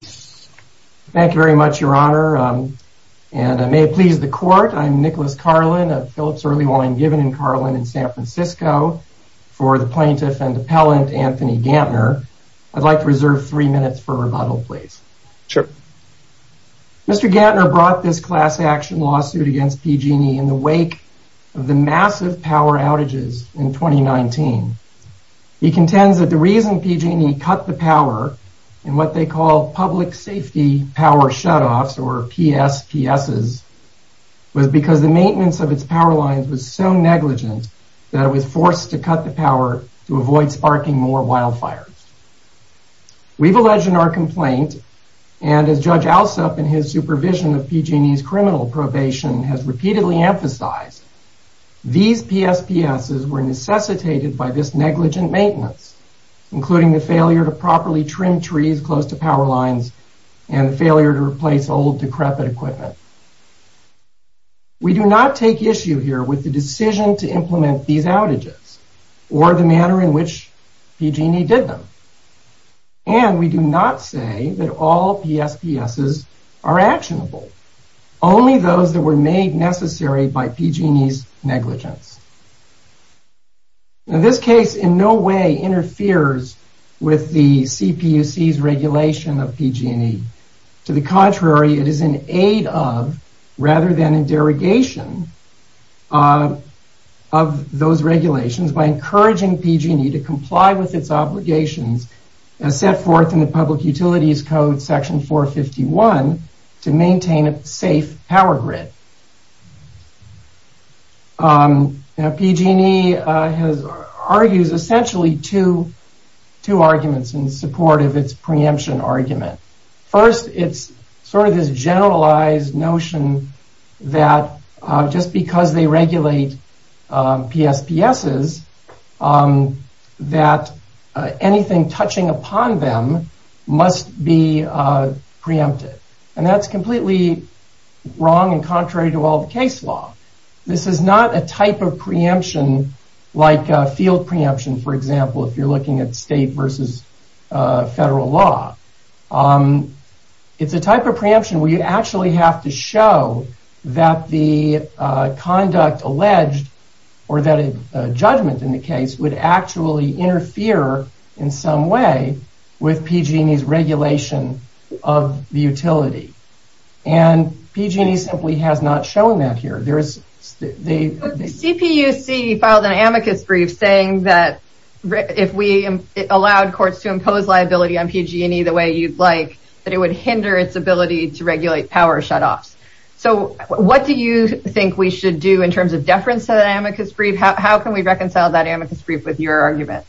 Thank you very much your honor and I may please the court. I'm Nicholas Carlin of Phillips Early Wine Given in Carlin in San Francisco for the plaintiff and appellant Anthony Gantner. I'd like to reserve three minutes for rebuttal please. Sure. Mr. Gantner brought this class-action lawsuit against PG&E in the wake of the massive power outages in 2019. He contends that the reason PG&E cut the power and what they call public safety power shutoffs or PSPS's was because the maintenance of its power lines was so negligent that it was forced to cut the power to avoid sparking more wildfires. We've alleged in our complaint and as Judge Alsop in his supervision of PG&E's criminal probation has repeatedly emphasized these PSPS's were necessitated by this failure to properly trim trees close to power lines and failure to replace old decrepit equipment. We do not take issue here with the decision to implement these outages or the manner in which PG&E did them and we do not say that all PSPS's are actionable. Only those that were made necessary by PG&E's Now this case in no way interferes with the CPUC's regulation of PG&E. To the contrary it is an aid of rather than a derogation of those regulations by encouraging PG&E to comply with its obligations as set forth in the Public argues essentially two arguments in support of its preemption argument. First it's sort of this generalized notion that just because they regulate PSPS's that anything touching upon them must be preempted and that's completely wrong contrary to all the case law. This is not a type of preemption like field preemption for example if you're looking at state versus federal law. It's a type of preemption where you actually have to show that the conduct alleged or that a judgment in the case would actually interfere in some way with PG&E's regulation of the utility and PG&E simply has not shown that here. There is the CPUC filed an amicus brief saying that if we allowed courts to impose liability on PG&E the way you'd like that it would hinder its ability to regulate power shutoffs. So what do you think we should do in terms of deference to that amicus brief? How can we reconcile that amicus brief with your argument?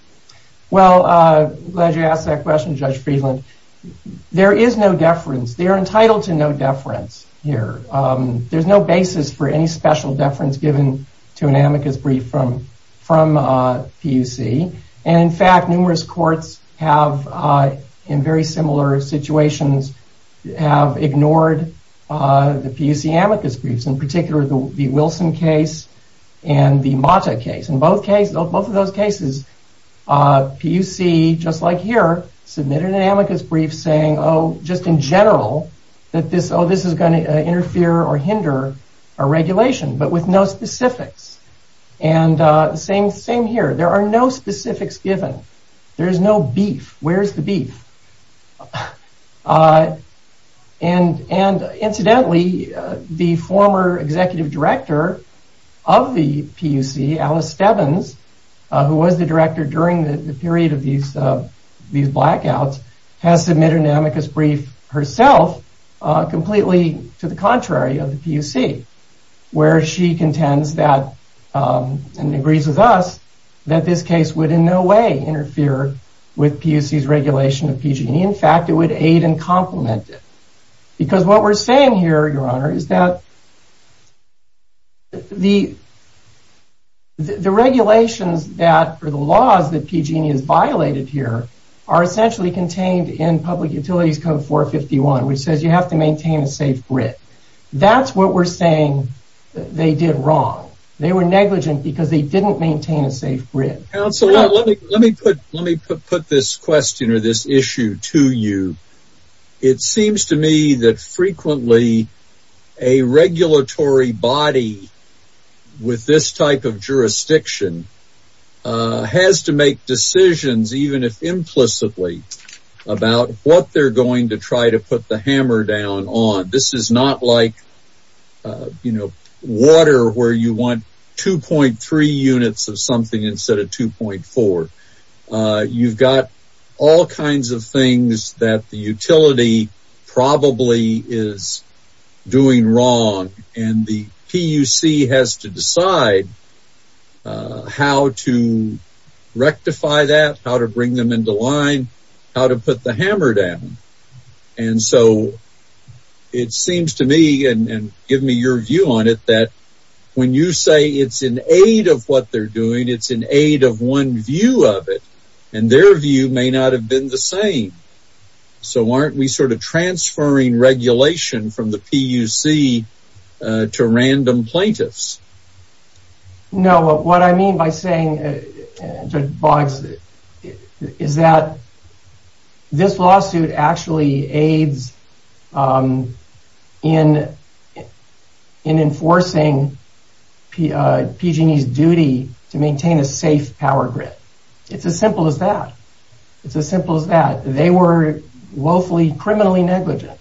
Well glad you asked that question Judge Friedland. There is no deference. They are entitled to no deference here. There's no basis for any special deference given to an amicus brief from from PUC and in fact numerous courts have in very similar situations have ignored the PUC amicus briefs in particular the Wilson case and the Mata case. In both cases of both of those cases PUC just like here submitted an amicus brief saying oh just in general that this oh this is going to interfere or hinder our regulation but with no specifics and same same here there are no specifics given. There is no beef. Where's the beef? And incidentally the former executive director of the PUC Alice Stebbins who was the director during the period of these these blackouts has submitted an amicus brief herself completely to the contrary of the PUC where she contends that and agrees with us that this case would in no way interfere with PUC's regulation of PG&E. In fact it would aid and the regulations that are the laws that PG&E is violated here are essentially contained in public utilities code 451 which says you have to maintain a safe grid. That's what we're saying they did wrong. They were negligent because they didn't maintain a safe grid. Counselor let me put let me put this question or this issue to you. It seems to me that frequently a regulatory body with this type of jurisdiction has to make decisions even if implicitly about what they're going to try to put the hammer down on. This is not like you know water where you want 2.3 units of something instead of 2.4. You've got all kinds of how to rectify that how to bring them into line how to put the hammer down and so it seems to me and give me your view on it that when you say it's an aid of what they're doing it's an aid of one view of it and their view may not have been the same. So aren't we sort of transferring regulation from the PUC to random plaintiffs? No what I mean by saying is that this lawsuit actually aids in in enforcing PG&E's duty to maintain a safe power grid. It's as simple as that. It's as simple as that. They were woefully criminally negligent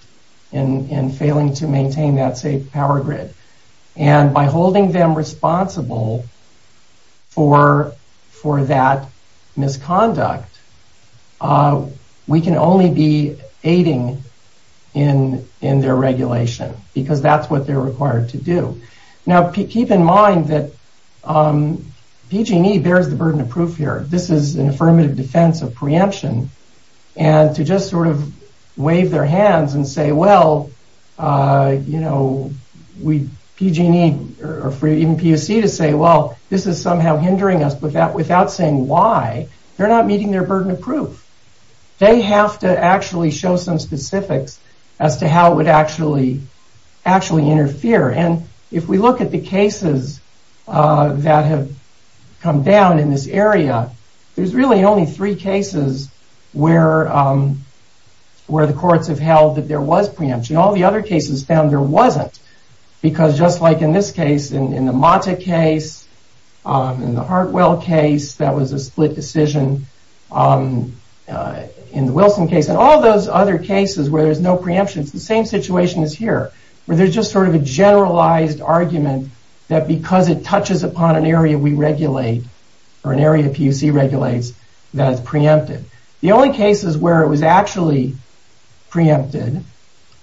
in failing to maintain that safe power grid and by holding them responsible for for that misconduct we can only be aiding in in their regulation because that's what they're required to do. Now keep in mind that PG&E bears the burden of proof here. This is an affirmative defense of preemption and to just sort of wave their hands and say well you know we PG&E or even PUC to say well this is somehow hindering us but that without saying why they're not meeting their burden of proof. They have to actually show some specifics as to how it would actually actually interfere and if we look at the cases that have come down in this area there's really only three cases where where the courts have held that there was preemption. All the other cases found there wasn't because just like in this case in the Monta case in the Hartwell case that was a split decision in the Wilson case and all those other cases where there's no preemptions the same situation is here where there's just sort of a generalized argument that because it touches upon an area we regulate or an area PUC regulates that is preempted. The only cases where it was actually preempted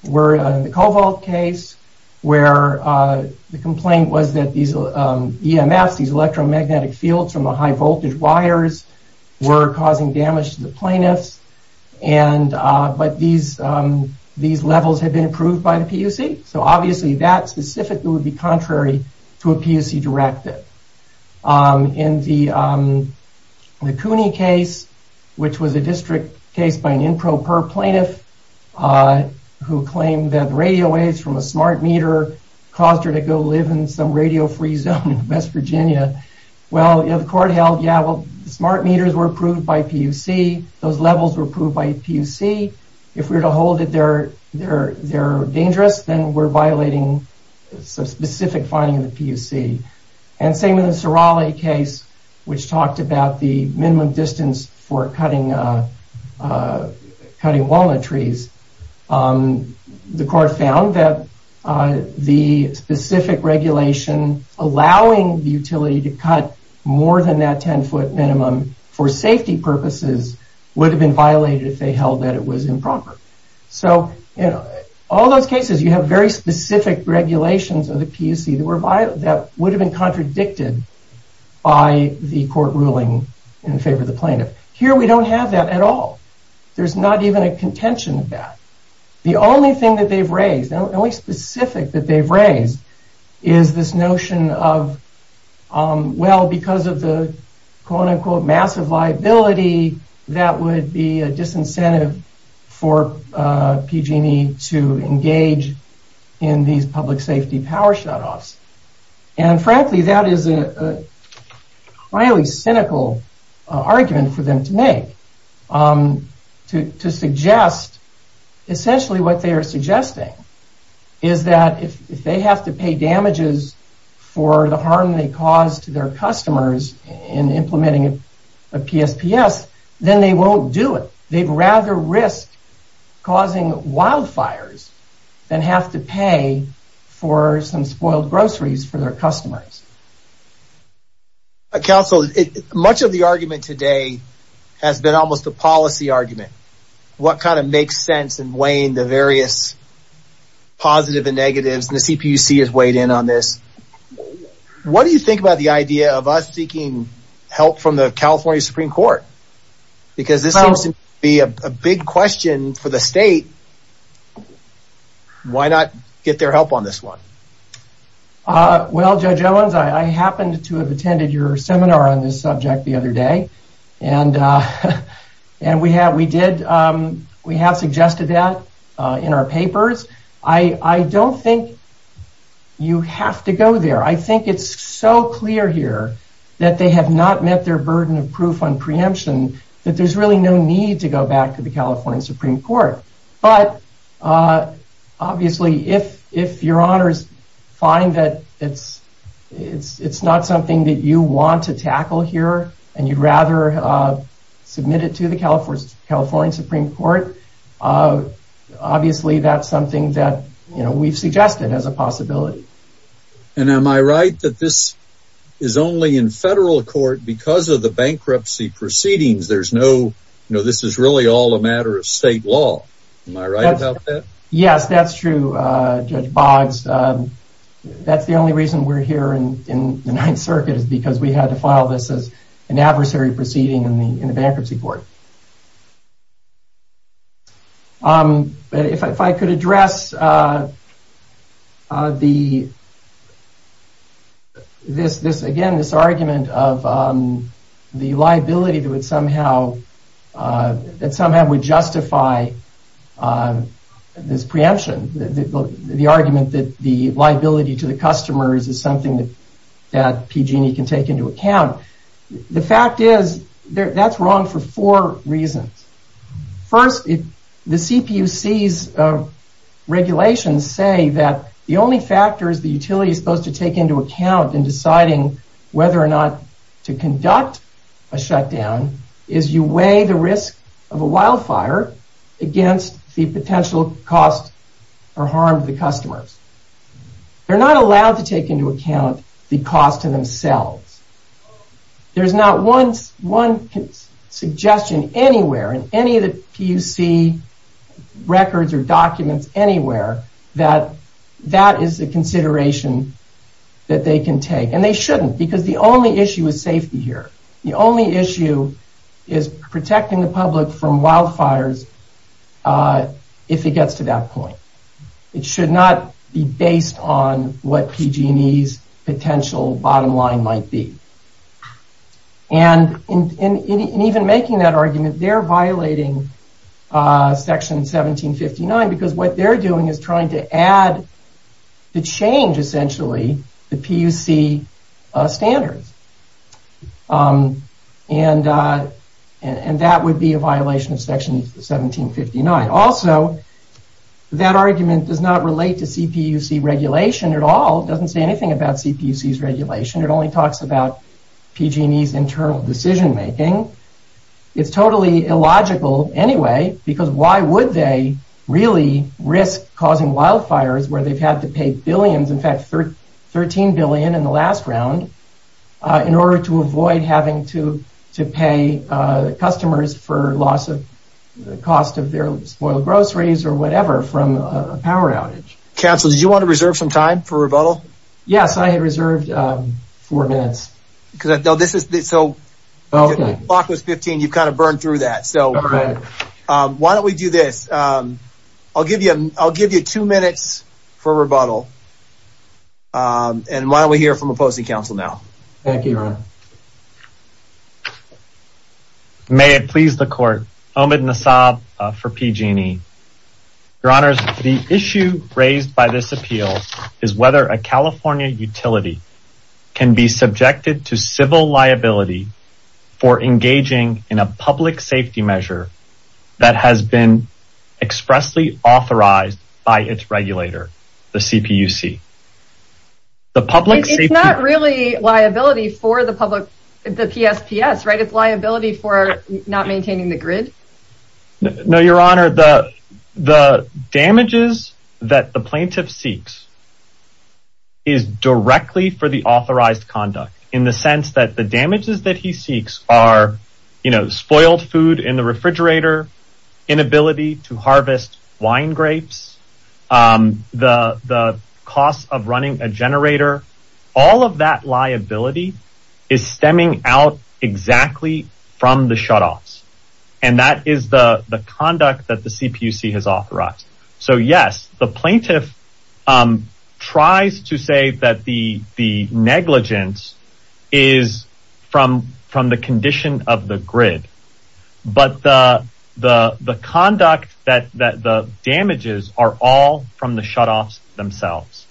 were the Covalt case where the complaint was that these EMFs these electromagnetic fields from the high voltage wires were causing damage to the plaintiffs and but these these levels have been approved by the PUC so obviously that specifically would be contrary to a PUC directive. In the Cooney case which was a district case by an improper plaintiff who claimed that radio waves from a smart meter caused her to go live in some radio-free zone in West Virginia well you know the court held yeah well the smart meters were approved by PUC those levels were approved by PUC if we were to hold it they're dangerous then we're violating some specific finding in the PUC and same in the Sorale case which talked about the minimum distance for cutting cutting walnut trees the court found that the specific regulation allowing the utility to cut more than that 10 foot minimum for safety purposes would have been violated if they held that it was improper. So you know all those cases you have very specific regulations of the PUC that were violated that would have been contradicted by the court ruling in favor of the plaintiff. Here we don't have that at all there's not even a contention of that. The only thing that they've raised only specific that they've raised is this notion of well because of the quote-unquote massive liability that would be a disincentive for PG&E to engage in these public safety power shutoffs and frankly that is a highly cynical argument for them to make to suggest essentially what they are suggesting is that if they have to pay damages for the harm they caused to customers in implementing a PSPS then they won't do it. They'd rather risk causing wildfires than have to pay for some spoiled groceries for their customers. Counsel much of the argument today has been almost a policy argument what kind of makes sense and weighing the various positive and negatives and you think about the idea of us seeking help from the California Supreme Court because this is to be a big question for the state why not get their help on this one? Well Judge Owens I happened to have attended your seminar on this subject the other day and and we have we did we have suggested that in our papers. I don't think you have to go there I think it's so clear here that they have not met their burden of proof on preemption that there's really no need to go back to the California Supreme Court but obviously if if your honors find that it's it's it's not something that you want to tackle here and you'd rather submit it to the California Supreme Court obviously that's something that you know we've suggested as a this is only in federal court because of the bankruptcy proceedings there's no no this is really all a matter of state law. Am I right about that? Yes that's true Judge Boggs that's the only reason we're here and in the Ninth Circuit is because we had to file this as an adversary proceeding in the in the bankruptcy court. If I could address the this this again this argument of the liability that would somehow that somehow would justify this preemption the argument that the liability to the customers is something that PG&E can take into account. The fact is there that's wrong for four reasons. First if the CPUC's regulations say that the only factors the utility is supposed to take into account in deciding whether or not to conduct a shutdown is you weigh the risk of a wildfire against the potential cost or harm to the customers. They're not allowed to take into account the cost to themselves. There's not once one suggestion anywhere in any of the PUC records or documents anywhere that that is the consideration that they can take and they shouldn't because the only issue is safety here. The only issue is protecting the public from wildfires if it gets to that point. It should not be based on what PG&E's potential bottom line might be and in even making that argument they're violating section 1759 because what they're doing is trying to add the change essentially the PUC standards and and that would be a violation of section 1759. Also that argument does not relate to CPUC regulation at all doesn't say anything about CPUC's regulation it only talks about PG&E's internal decision-making. It's totally illogical anyway because why would they really risk causing wildfires where they've had to pay billions in fact 13 billion in the last round in order to avoid having to to pay customers for loss of the cost of their spoiled groceries or whatever from a power outage. Counselor did you want to reserve some time for rebuttal? Yes I had reserved four minutes because I know this is this so okay clock was 15 you've kind of burned through that so why don't we do this I'll give you I'll give you two minutes for rebuttal and why don't we hear from opposing counsel now. Thank you. May it please the court Omid Nassab for PG&E. Your honors the issue raised by this appeal is whether a California utility can be subjected to civil liability for engaging in a public safety measure that has been expressly authorized by its regulator the CPUC. The public is not really liability for the public the PSPS right it's liability for not maintaining the grid. No your honor the the damages that the plaintiff seeks is directly for the authorized conduct in the sense that the damages that he seeks are you know spoiled food in the refrigerator, inability to harvest wine grapes, the the cost of running a generator, all of that liability is stemming out exactly from the shutoffs and that is the the conduct that the CPUC has authorized. So yes the plaintiff tries to say that the the negligence is from from the condition of the grid but the the the conduct that that the damages are all from the shutoffs themselves.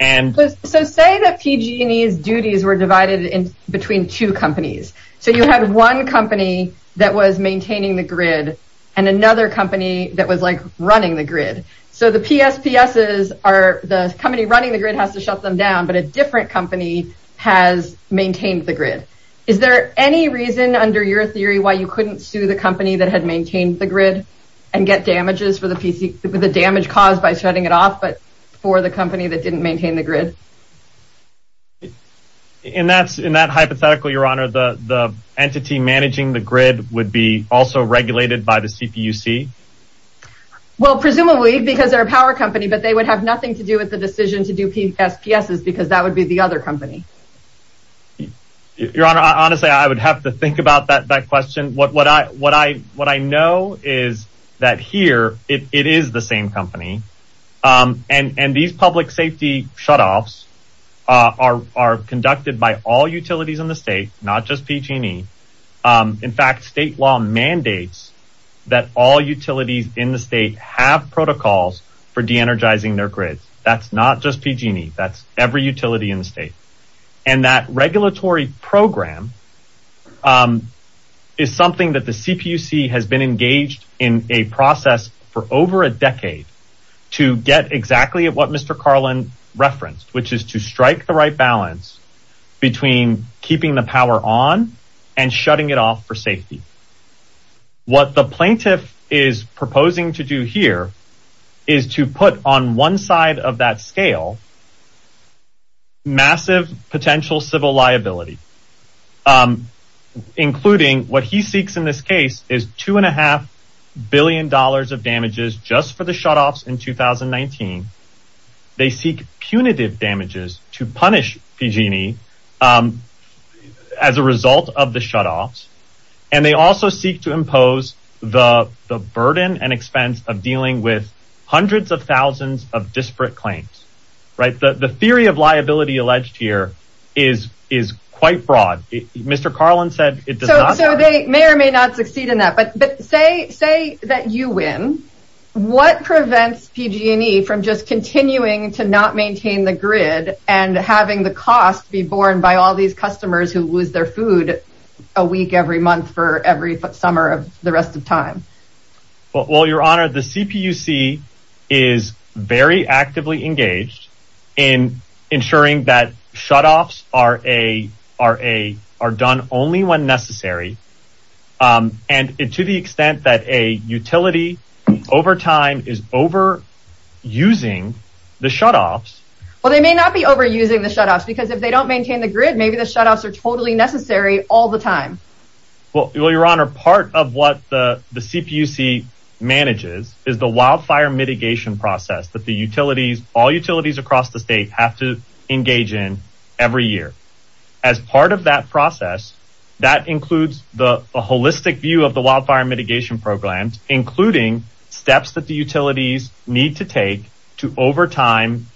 And so say that PG&E's duties were divided in between two companies so you have one company that was maintaining the grid and another company that was like running the grid so the PSPS's are the company running the grid has to shut them down but a different company has maintained the grid. Is there any reason under your theory why you couldn't sue the company that had maintained the grid and get damages for the PC the damage caused by shutting it off but for the company that didn't maintain the grid? And that's in that hypothetical your honor the the entity managing the grid would be also regulated by the CPUC? Well presumably because they're a power company but they would have nothing to do with the other company. Your honor honestly I would have to think about that that question what what I what I what I know is that here it is the same company and and these public safety shutoffs are conducted by all utilities in the state not just PG&E. In fact state law mandates that all utilities in the state have protocols for de-energizing their grids that's not just PG&E that's every utility in the state and that regulatory program is something that the CPUC has been engaged in a process for over a decade to get exactly at what Mr. Carlin referenced which is to strike the right balance between keeping the power on and shutting it off for safety. What the plaintiff is proposing to do here is to put on one side of that scale massive potential civil liability including what he seeks in this case is two and a half billion dollars of damages just for the shutoffs in 2019. They seek punitive damages to punish PG&E as a result of the shutoffs and they also seek to impose the the burden and expense of dealing with hundreds of thousands of disparate claims right the the theory of liability alleged here is is quite broad. Mr. Carlin said it does not. So they may or may not succeed in that but but say say that you win what prevents PG&E from just continuing to not maintain the grid and having the cost be borne by all these customers who lose their food a week every month for every summer of the rest of time. Well your honor the CPUC is very actively engaged in ensuring that shutoffs are a are a are done only when necessary and to the extent that a utility over time is over using the shutoffs. Well they may not be over using the shutoffs because if they don't maintain the grid maybe the shutoffs are totally necessary all the time. Well your honor part of what the the CPUC manages is the wildfire mitigation process that the utilities all utilities across the state have to engage in every year. As part of that process that includes the holistic view of the wildfire mitigation programs including steps that the utilities need to take to over time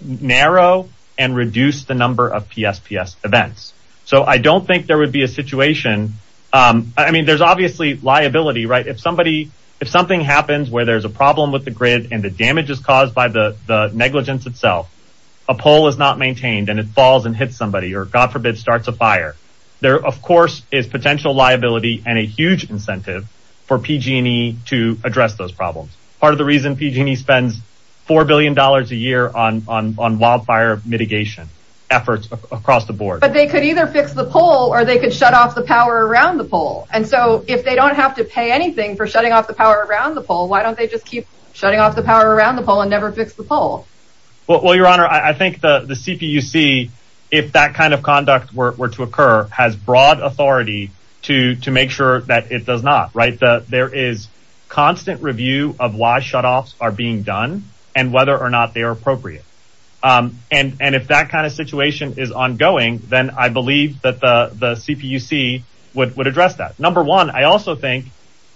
narrow and reduce the number of PSPS events. So I don't think there would be a situation I mean there's obviously liability right if somebody if something happens where there's a problem with the grid and the damage is caused by the negligence itself a pole is not maintained and it falls and hits somebody or God forbid starts a fire. There of course is potential liability and a huge incentive for PG&E to address those problems. Part of the reason PG&E spends four billion dollars a year on on wildfire mitigation efforts across the board. But they could either fix the pole or they could shut off the power around the pole and so if they don't have to pay anything for shutting off the power around the pole why don't they just keep shutting off the power around the pole and never fix the pole? Well your honor I think the the CPUC if that kind of conduct were to occur has broad authority to to make sure that it does not right. There is constant review of why shutoffs are being done and whether or not they are appropriate. And and if that kind of situation is ongoing then I believe that the the CPUC would would address that. Number one I also think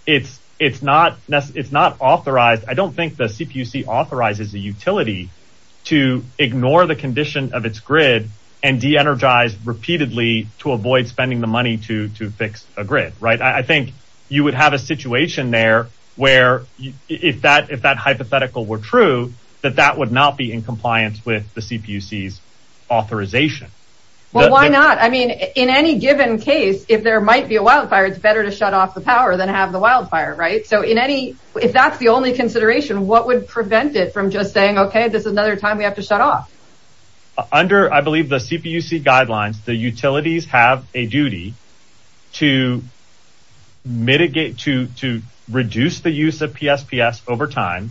it's it's not it's not authorized I don't think the CPUC authorizes the utility to ignore the condition of its grid and de-energize repeatedly to avoid spending the money to to fix a grid right. I think you would have a situation there where if that if that hypothetical were true that that would not be in compliance with the CPUC's authorization. Well why not I mean in any given case if there might be a wildfire it's better to shut off the power than have the wildfire right. So in any if that's the only consideration what would prevent it from just saying okay this is another time we have to shut off. Under I believe the CPUC guidelines the utilities have a duty to mitigate to to reduce the use of PSPS over time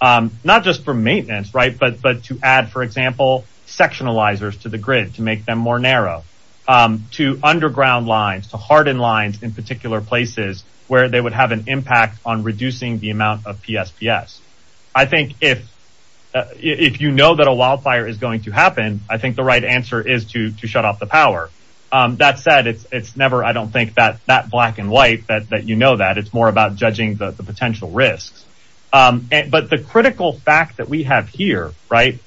not just for maintenance right but but to add for example sectionalizers to the grid to make them more narrow to underground lines to harden lines in particular places where they would have an impact on reducing the amount of PSPS. I think if if you know that a wildfire is going to happen I think the right answer is to to shut off the power. That said it's it's never I don't think that that black and white that that you know that it's more about judging the potential risks. But the critical fact that we have here right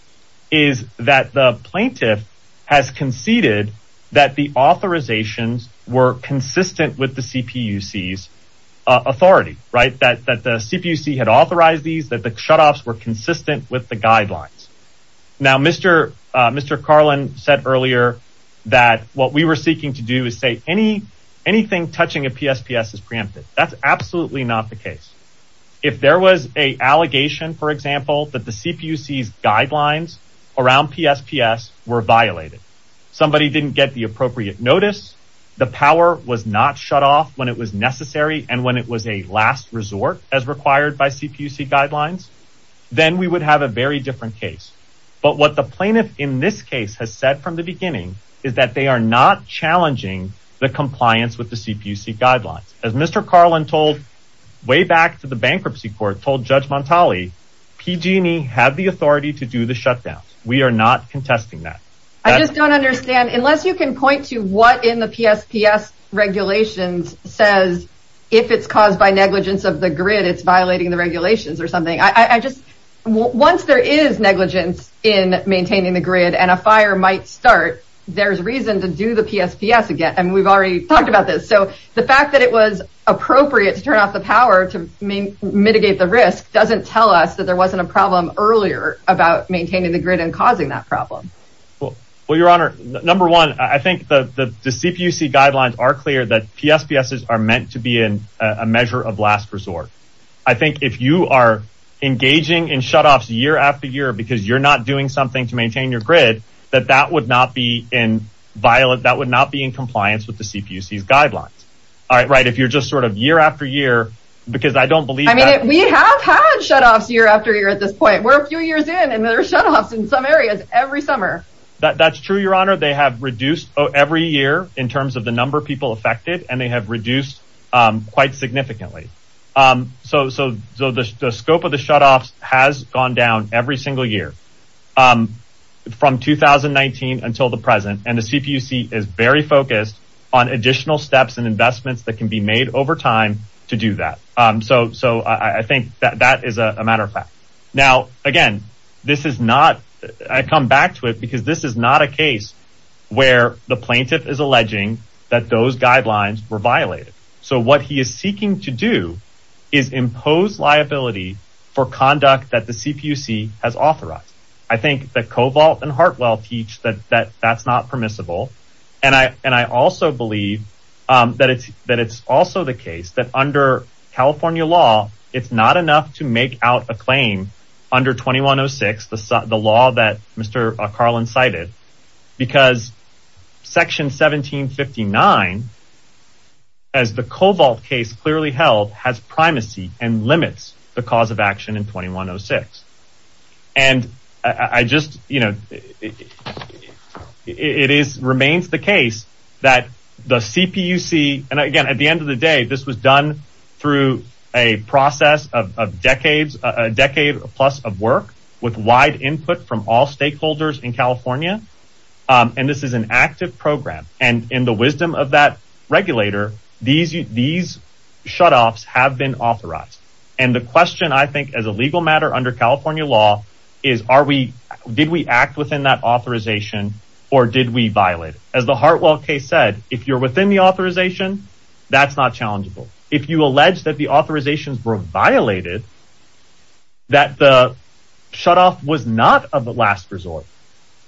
is that the plaintiff has conceded that the authorizations were consistent with the CPUC's authority right that that the CPUC had authorized these that the shutoffs were consistent with the guidelines. Now Mr. Mr. Carlin said earlier that what we were seeking to do is say any anything touching a PSPS is preempted. That's absolutely not the case. If there was a allegation for example that the CPUC's guidelines around PSPS were violated, somebody didn't get the appropriate notice, the power was not shut off when it was necessary and when it was a last resort as required by CPUC guidelines, then we would have a very different case. But what the plaintiff in this case has said from the beginning is that they are not challenging the compliance with the CPUC guidelines. As Mr. Carlin told way back to the bankruptcy court told Judge Montali PG&E had the authority to do the shutdowns. We are not contesting that. I just don't understand unless you can point to what in the PSPS regulations says if it's caused by negligence of the grid it's violating the regulations or something. I just once there is negligence in maintaining the grid and a fire might start there's reason to do the PSPS again and we've already talked about this. So the fact that it was appropriate to turn off the power to mitigate the risk doesn't tell us that there wasn't a problem earlier about maintaining the grid and causing that problem. Well your honor number one I clear that PSPS are meant to be in a measure of last resort. I think if you are engaging in shutoffs year after year because you're not doing something to maintain your grid that that would not be in violent that would not be in compliance with the CPUC guidelines. All right right if you're just sort of year after year because I don't believe. I mean we have had shutoffs year after year at this point. We're a few years in and there's shutoffs in some areas every summer. That's true your honor they have reduced every year in terms of the people affected and they have reduced quite significantly. So the scope of the shutoffs has gone down every single year from 2019 until the present and the CPUC is very focused on additional steps and investments that can be made over time to do that. So I think that is a matter of fact. Now again this is not I come back to it because this is not a case where the plaintiff is alleging that those guidelines were violated. So what he is seeking to do is impose liability for conduct that the CPUC has authorized. I think that Covalt and Hartwell teach that that that's not permissible and I and I also believe that it's that it's also the case that under California law it's not enough to make out a claim under 2106 the law that Mr. Carlin cited because section 1759 as the Covalt case clearly held has primacy and limits the cause of action in 2106 and I just you know it is remains the case that the CPUC and again at the end of the day this was done through a process of decades a decade plus of work with wide input from all stakeholders in California and this is an active program and in the wisdom of that regulator these these shutoffs have been authorized and the question I think as a legal matter under California law is are we did we act within that authorization or did we violate as the Hartwell case said if you're within the authorization that's not challengeable if you allege that the authorizations were violated that the shutoff was not of the last resort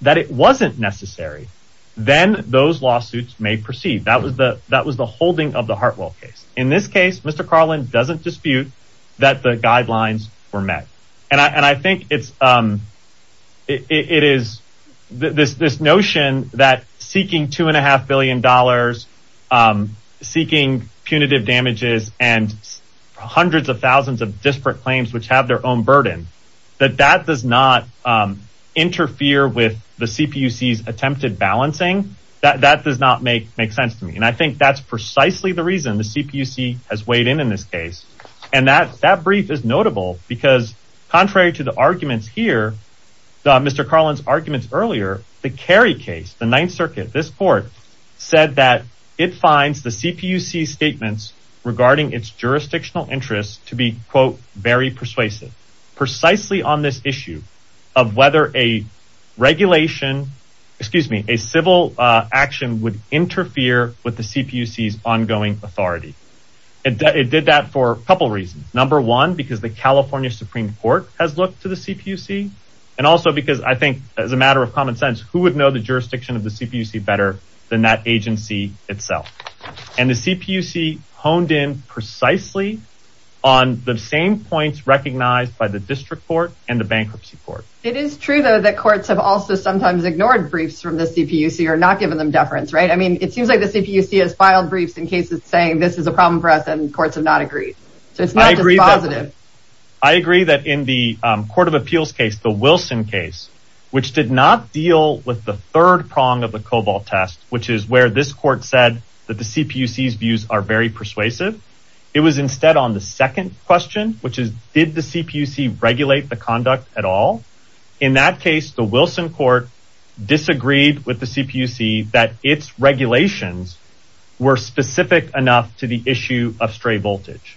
that it wasn't necessary then those lawsuits may proceed that was the that was the holding of the Hartwell case in this case mr. Carlin doesn't dispute that the guidelines were met and I and I think it's it is this this notion that seeking two and a half billion dollars seeking punitive damages and hundreds of thousands of disparate claims which have their own burden that that does not interfere with the CPUC's attempted balancing that that does not make make sense to me and I think that's precisely the reason the CPUC has weighed in in this case and that that brief is notable because contrary to the arguments here mr. Carlin's arguments earlier the carry case the Ninth Circuit this court said that it finds the CPUC statements regarding its jurisdictional interests to be quote very persuasive precisely on this issue of whether a regulation excuse me a civil action would interfere with the CPUC's ongoing authority it did that for a couple reasons number one because the California Supreme Court has looked to the CPUC and also because I think as a matter of common sense who would know the jurisdiction of the CPUC better than that agency itself and the CPUC honed in precisely on the same points recognized by the district court and the bankruptcy court it is true though that courts have also sometimes ignored briefs from the CPUC or not given them deference right I mean it seems like the CPUC has filed briefs in cases saying this is a problem for us and courts have not agreed so it's not positive I agree that in the Court of Appeals case the Wilson case which did not deal with the third prong of the Cobalt test which is where this court said that the CPUC's views are very persuasive it was instead on the second question which is did the CPUC regulate the conduct at all in that case the Wilson court disagreed with the CPUC that its regulations were specific enough to the issue of stray voltage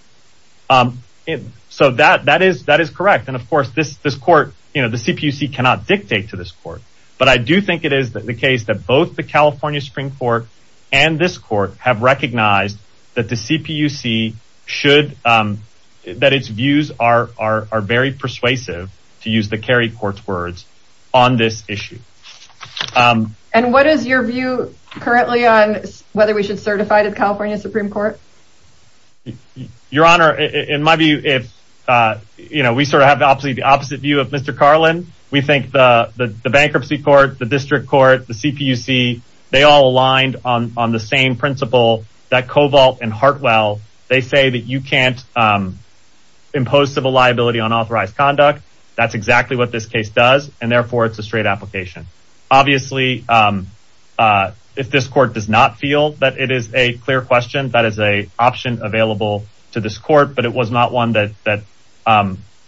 so that that is that is correct and of course this this court you know the CPUC cannot dictate to this court but I do think it is that the case that both the California Supreme Court and this court have recognized that the CPUC should that its views are are very persuasive to use the Kerry court's words on this issue and what is your view currently on whether we should certify to California Supreme Court your honor in my view if you know we sort of have the opposite the opposite view of Mr. Carlin we think the bankruptcy court the district court the CPUC they all aligned on the same principle that Cobalt and Hartwell they say that you can't impose civil liability on authorized conduct that's exactly what this case does and therefore it's a straight application obviously if this court does not feel that it is a clear question that is a option available to this court but it was not one that that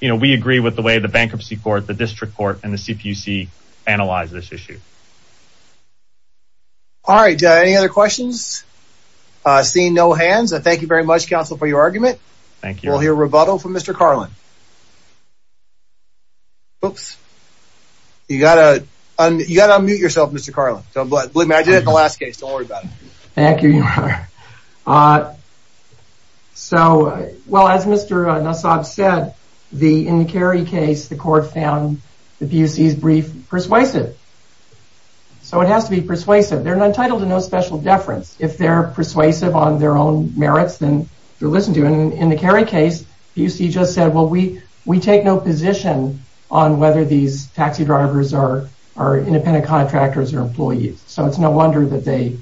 you know we agree with the way the bankruptcy court the district court and the CPUC analyze this issue all right any other questions seeing no hands I thank you very much counsel for your argument thank you all here rebuttal from mr. Carlin oops you got a you got a mute yourself mr. Carlin so but I did it thank you so well as mr. Nassau said the in the Kerry case the court found the PUC's brief persuasive so it has to be persuasive they're not entitled to no special deference if they're persuasive on their own merits then you listen to and in the Kerry case you see just said well we we take no position on whether these taxi drivers are our independent contractors or employees so it's no wonder that they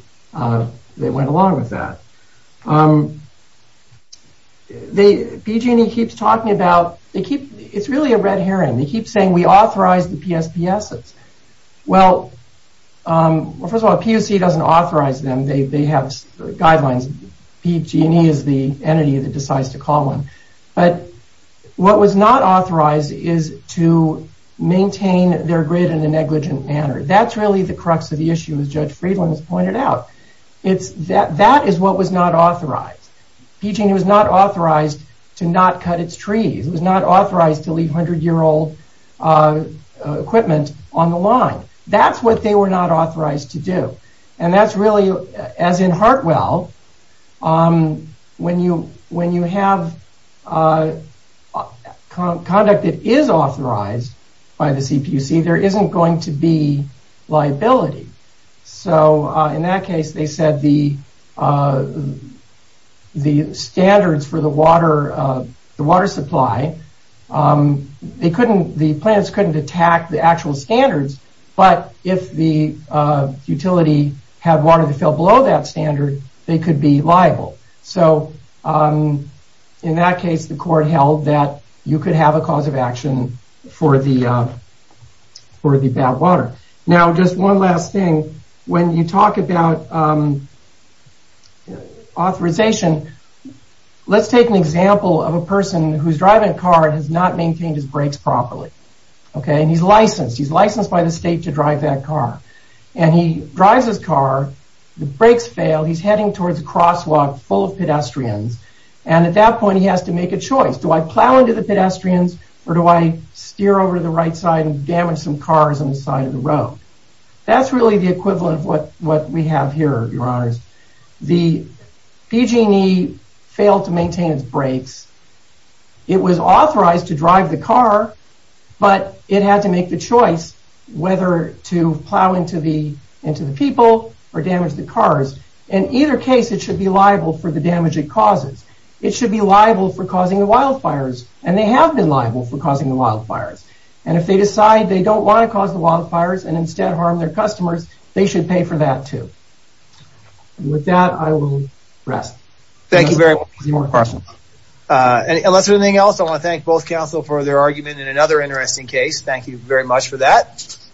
they went along with that the PG&E keeps talking about they keep it's really a red herring they keep saying we authorize the PSPS it's well first of all PUC doesn't authorize them they have guidelines PG&E is the entity that decides to call one but what was not authorized is to maintain their grid in a negligent manner that's really the crux of the issue as judge Friedland has pointed out it's that that is what was not authorized PG&E was not authorized to not cut its trees was not authorized to leave hundred-year-old equipment on the line that's what they were not authorized to do and that's really as in Hartwell when you when you have conduct it is authorized by the CPC there isn't going to be liability so in that case they said the the standards for the water the water supply they couldn't the plants couldn't attack the actual standards but if the utility had water to fill below that standard they could be liable so in that case the court held that you could have a cause of action for the for the bad water now just one last thing when you talk about authorization let's take an example of a person who's driving a car and has not maintained his brakes properly okay and he's licensed he's licensed by the state to drive that car and he drives his car the brakes fail he's heading towards a crosswalk full of pedestrians and at that point he has to make a choice do I steer over to the right side and damage some cars on the side of the road that's really the equivalent of what what we have here your honors the PG&E failed to maintain its brakes it was authorized to drive the car but it had to make the choice whether to plow into the into the people or damage the cars in either case it should be liable for the damage it causes it should be liable for causing the wildfires and they have been liable for causing the wildfires and if they decide they don't want to cause the wildfires and instead harm their customers they should pay for that too with that I will rest thank you very much more questions and that's everything else I want to thank both counsel for their argument in another interesting case thank you very much for that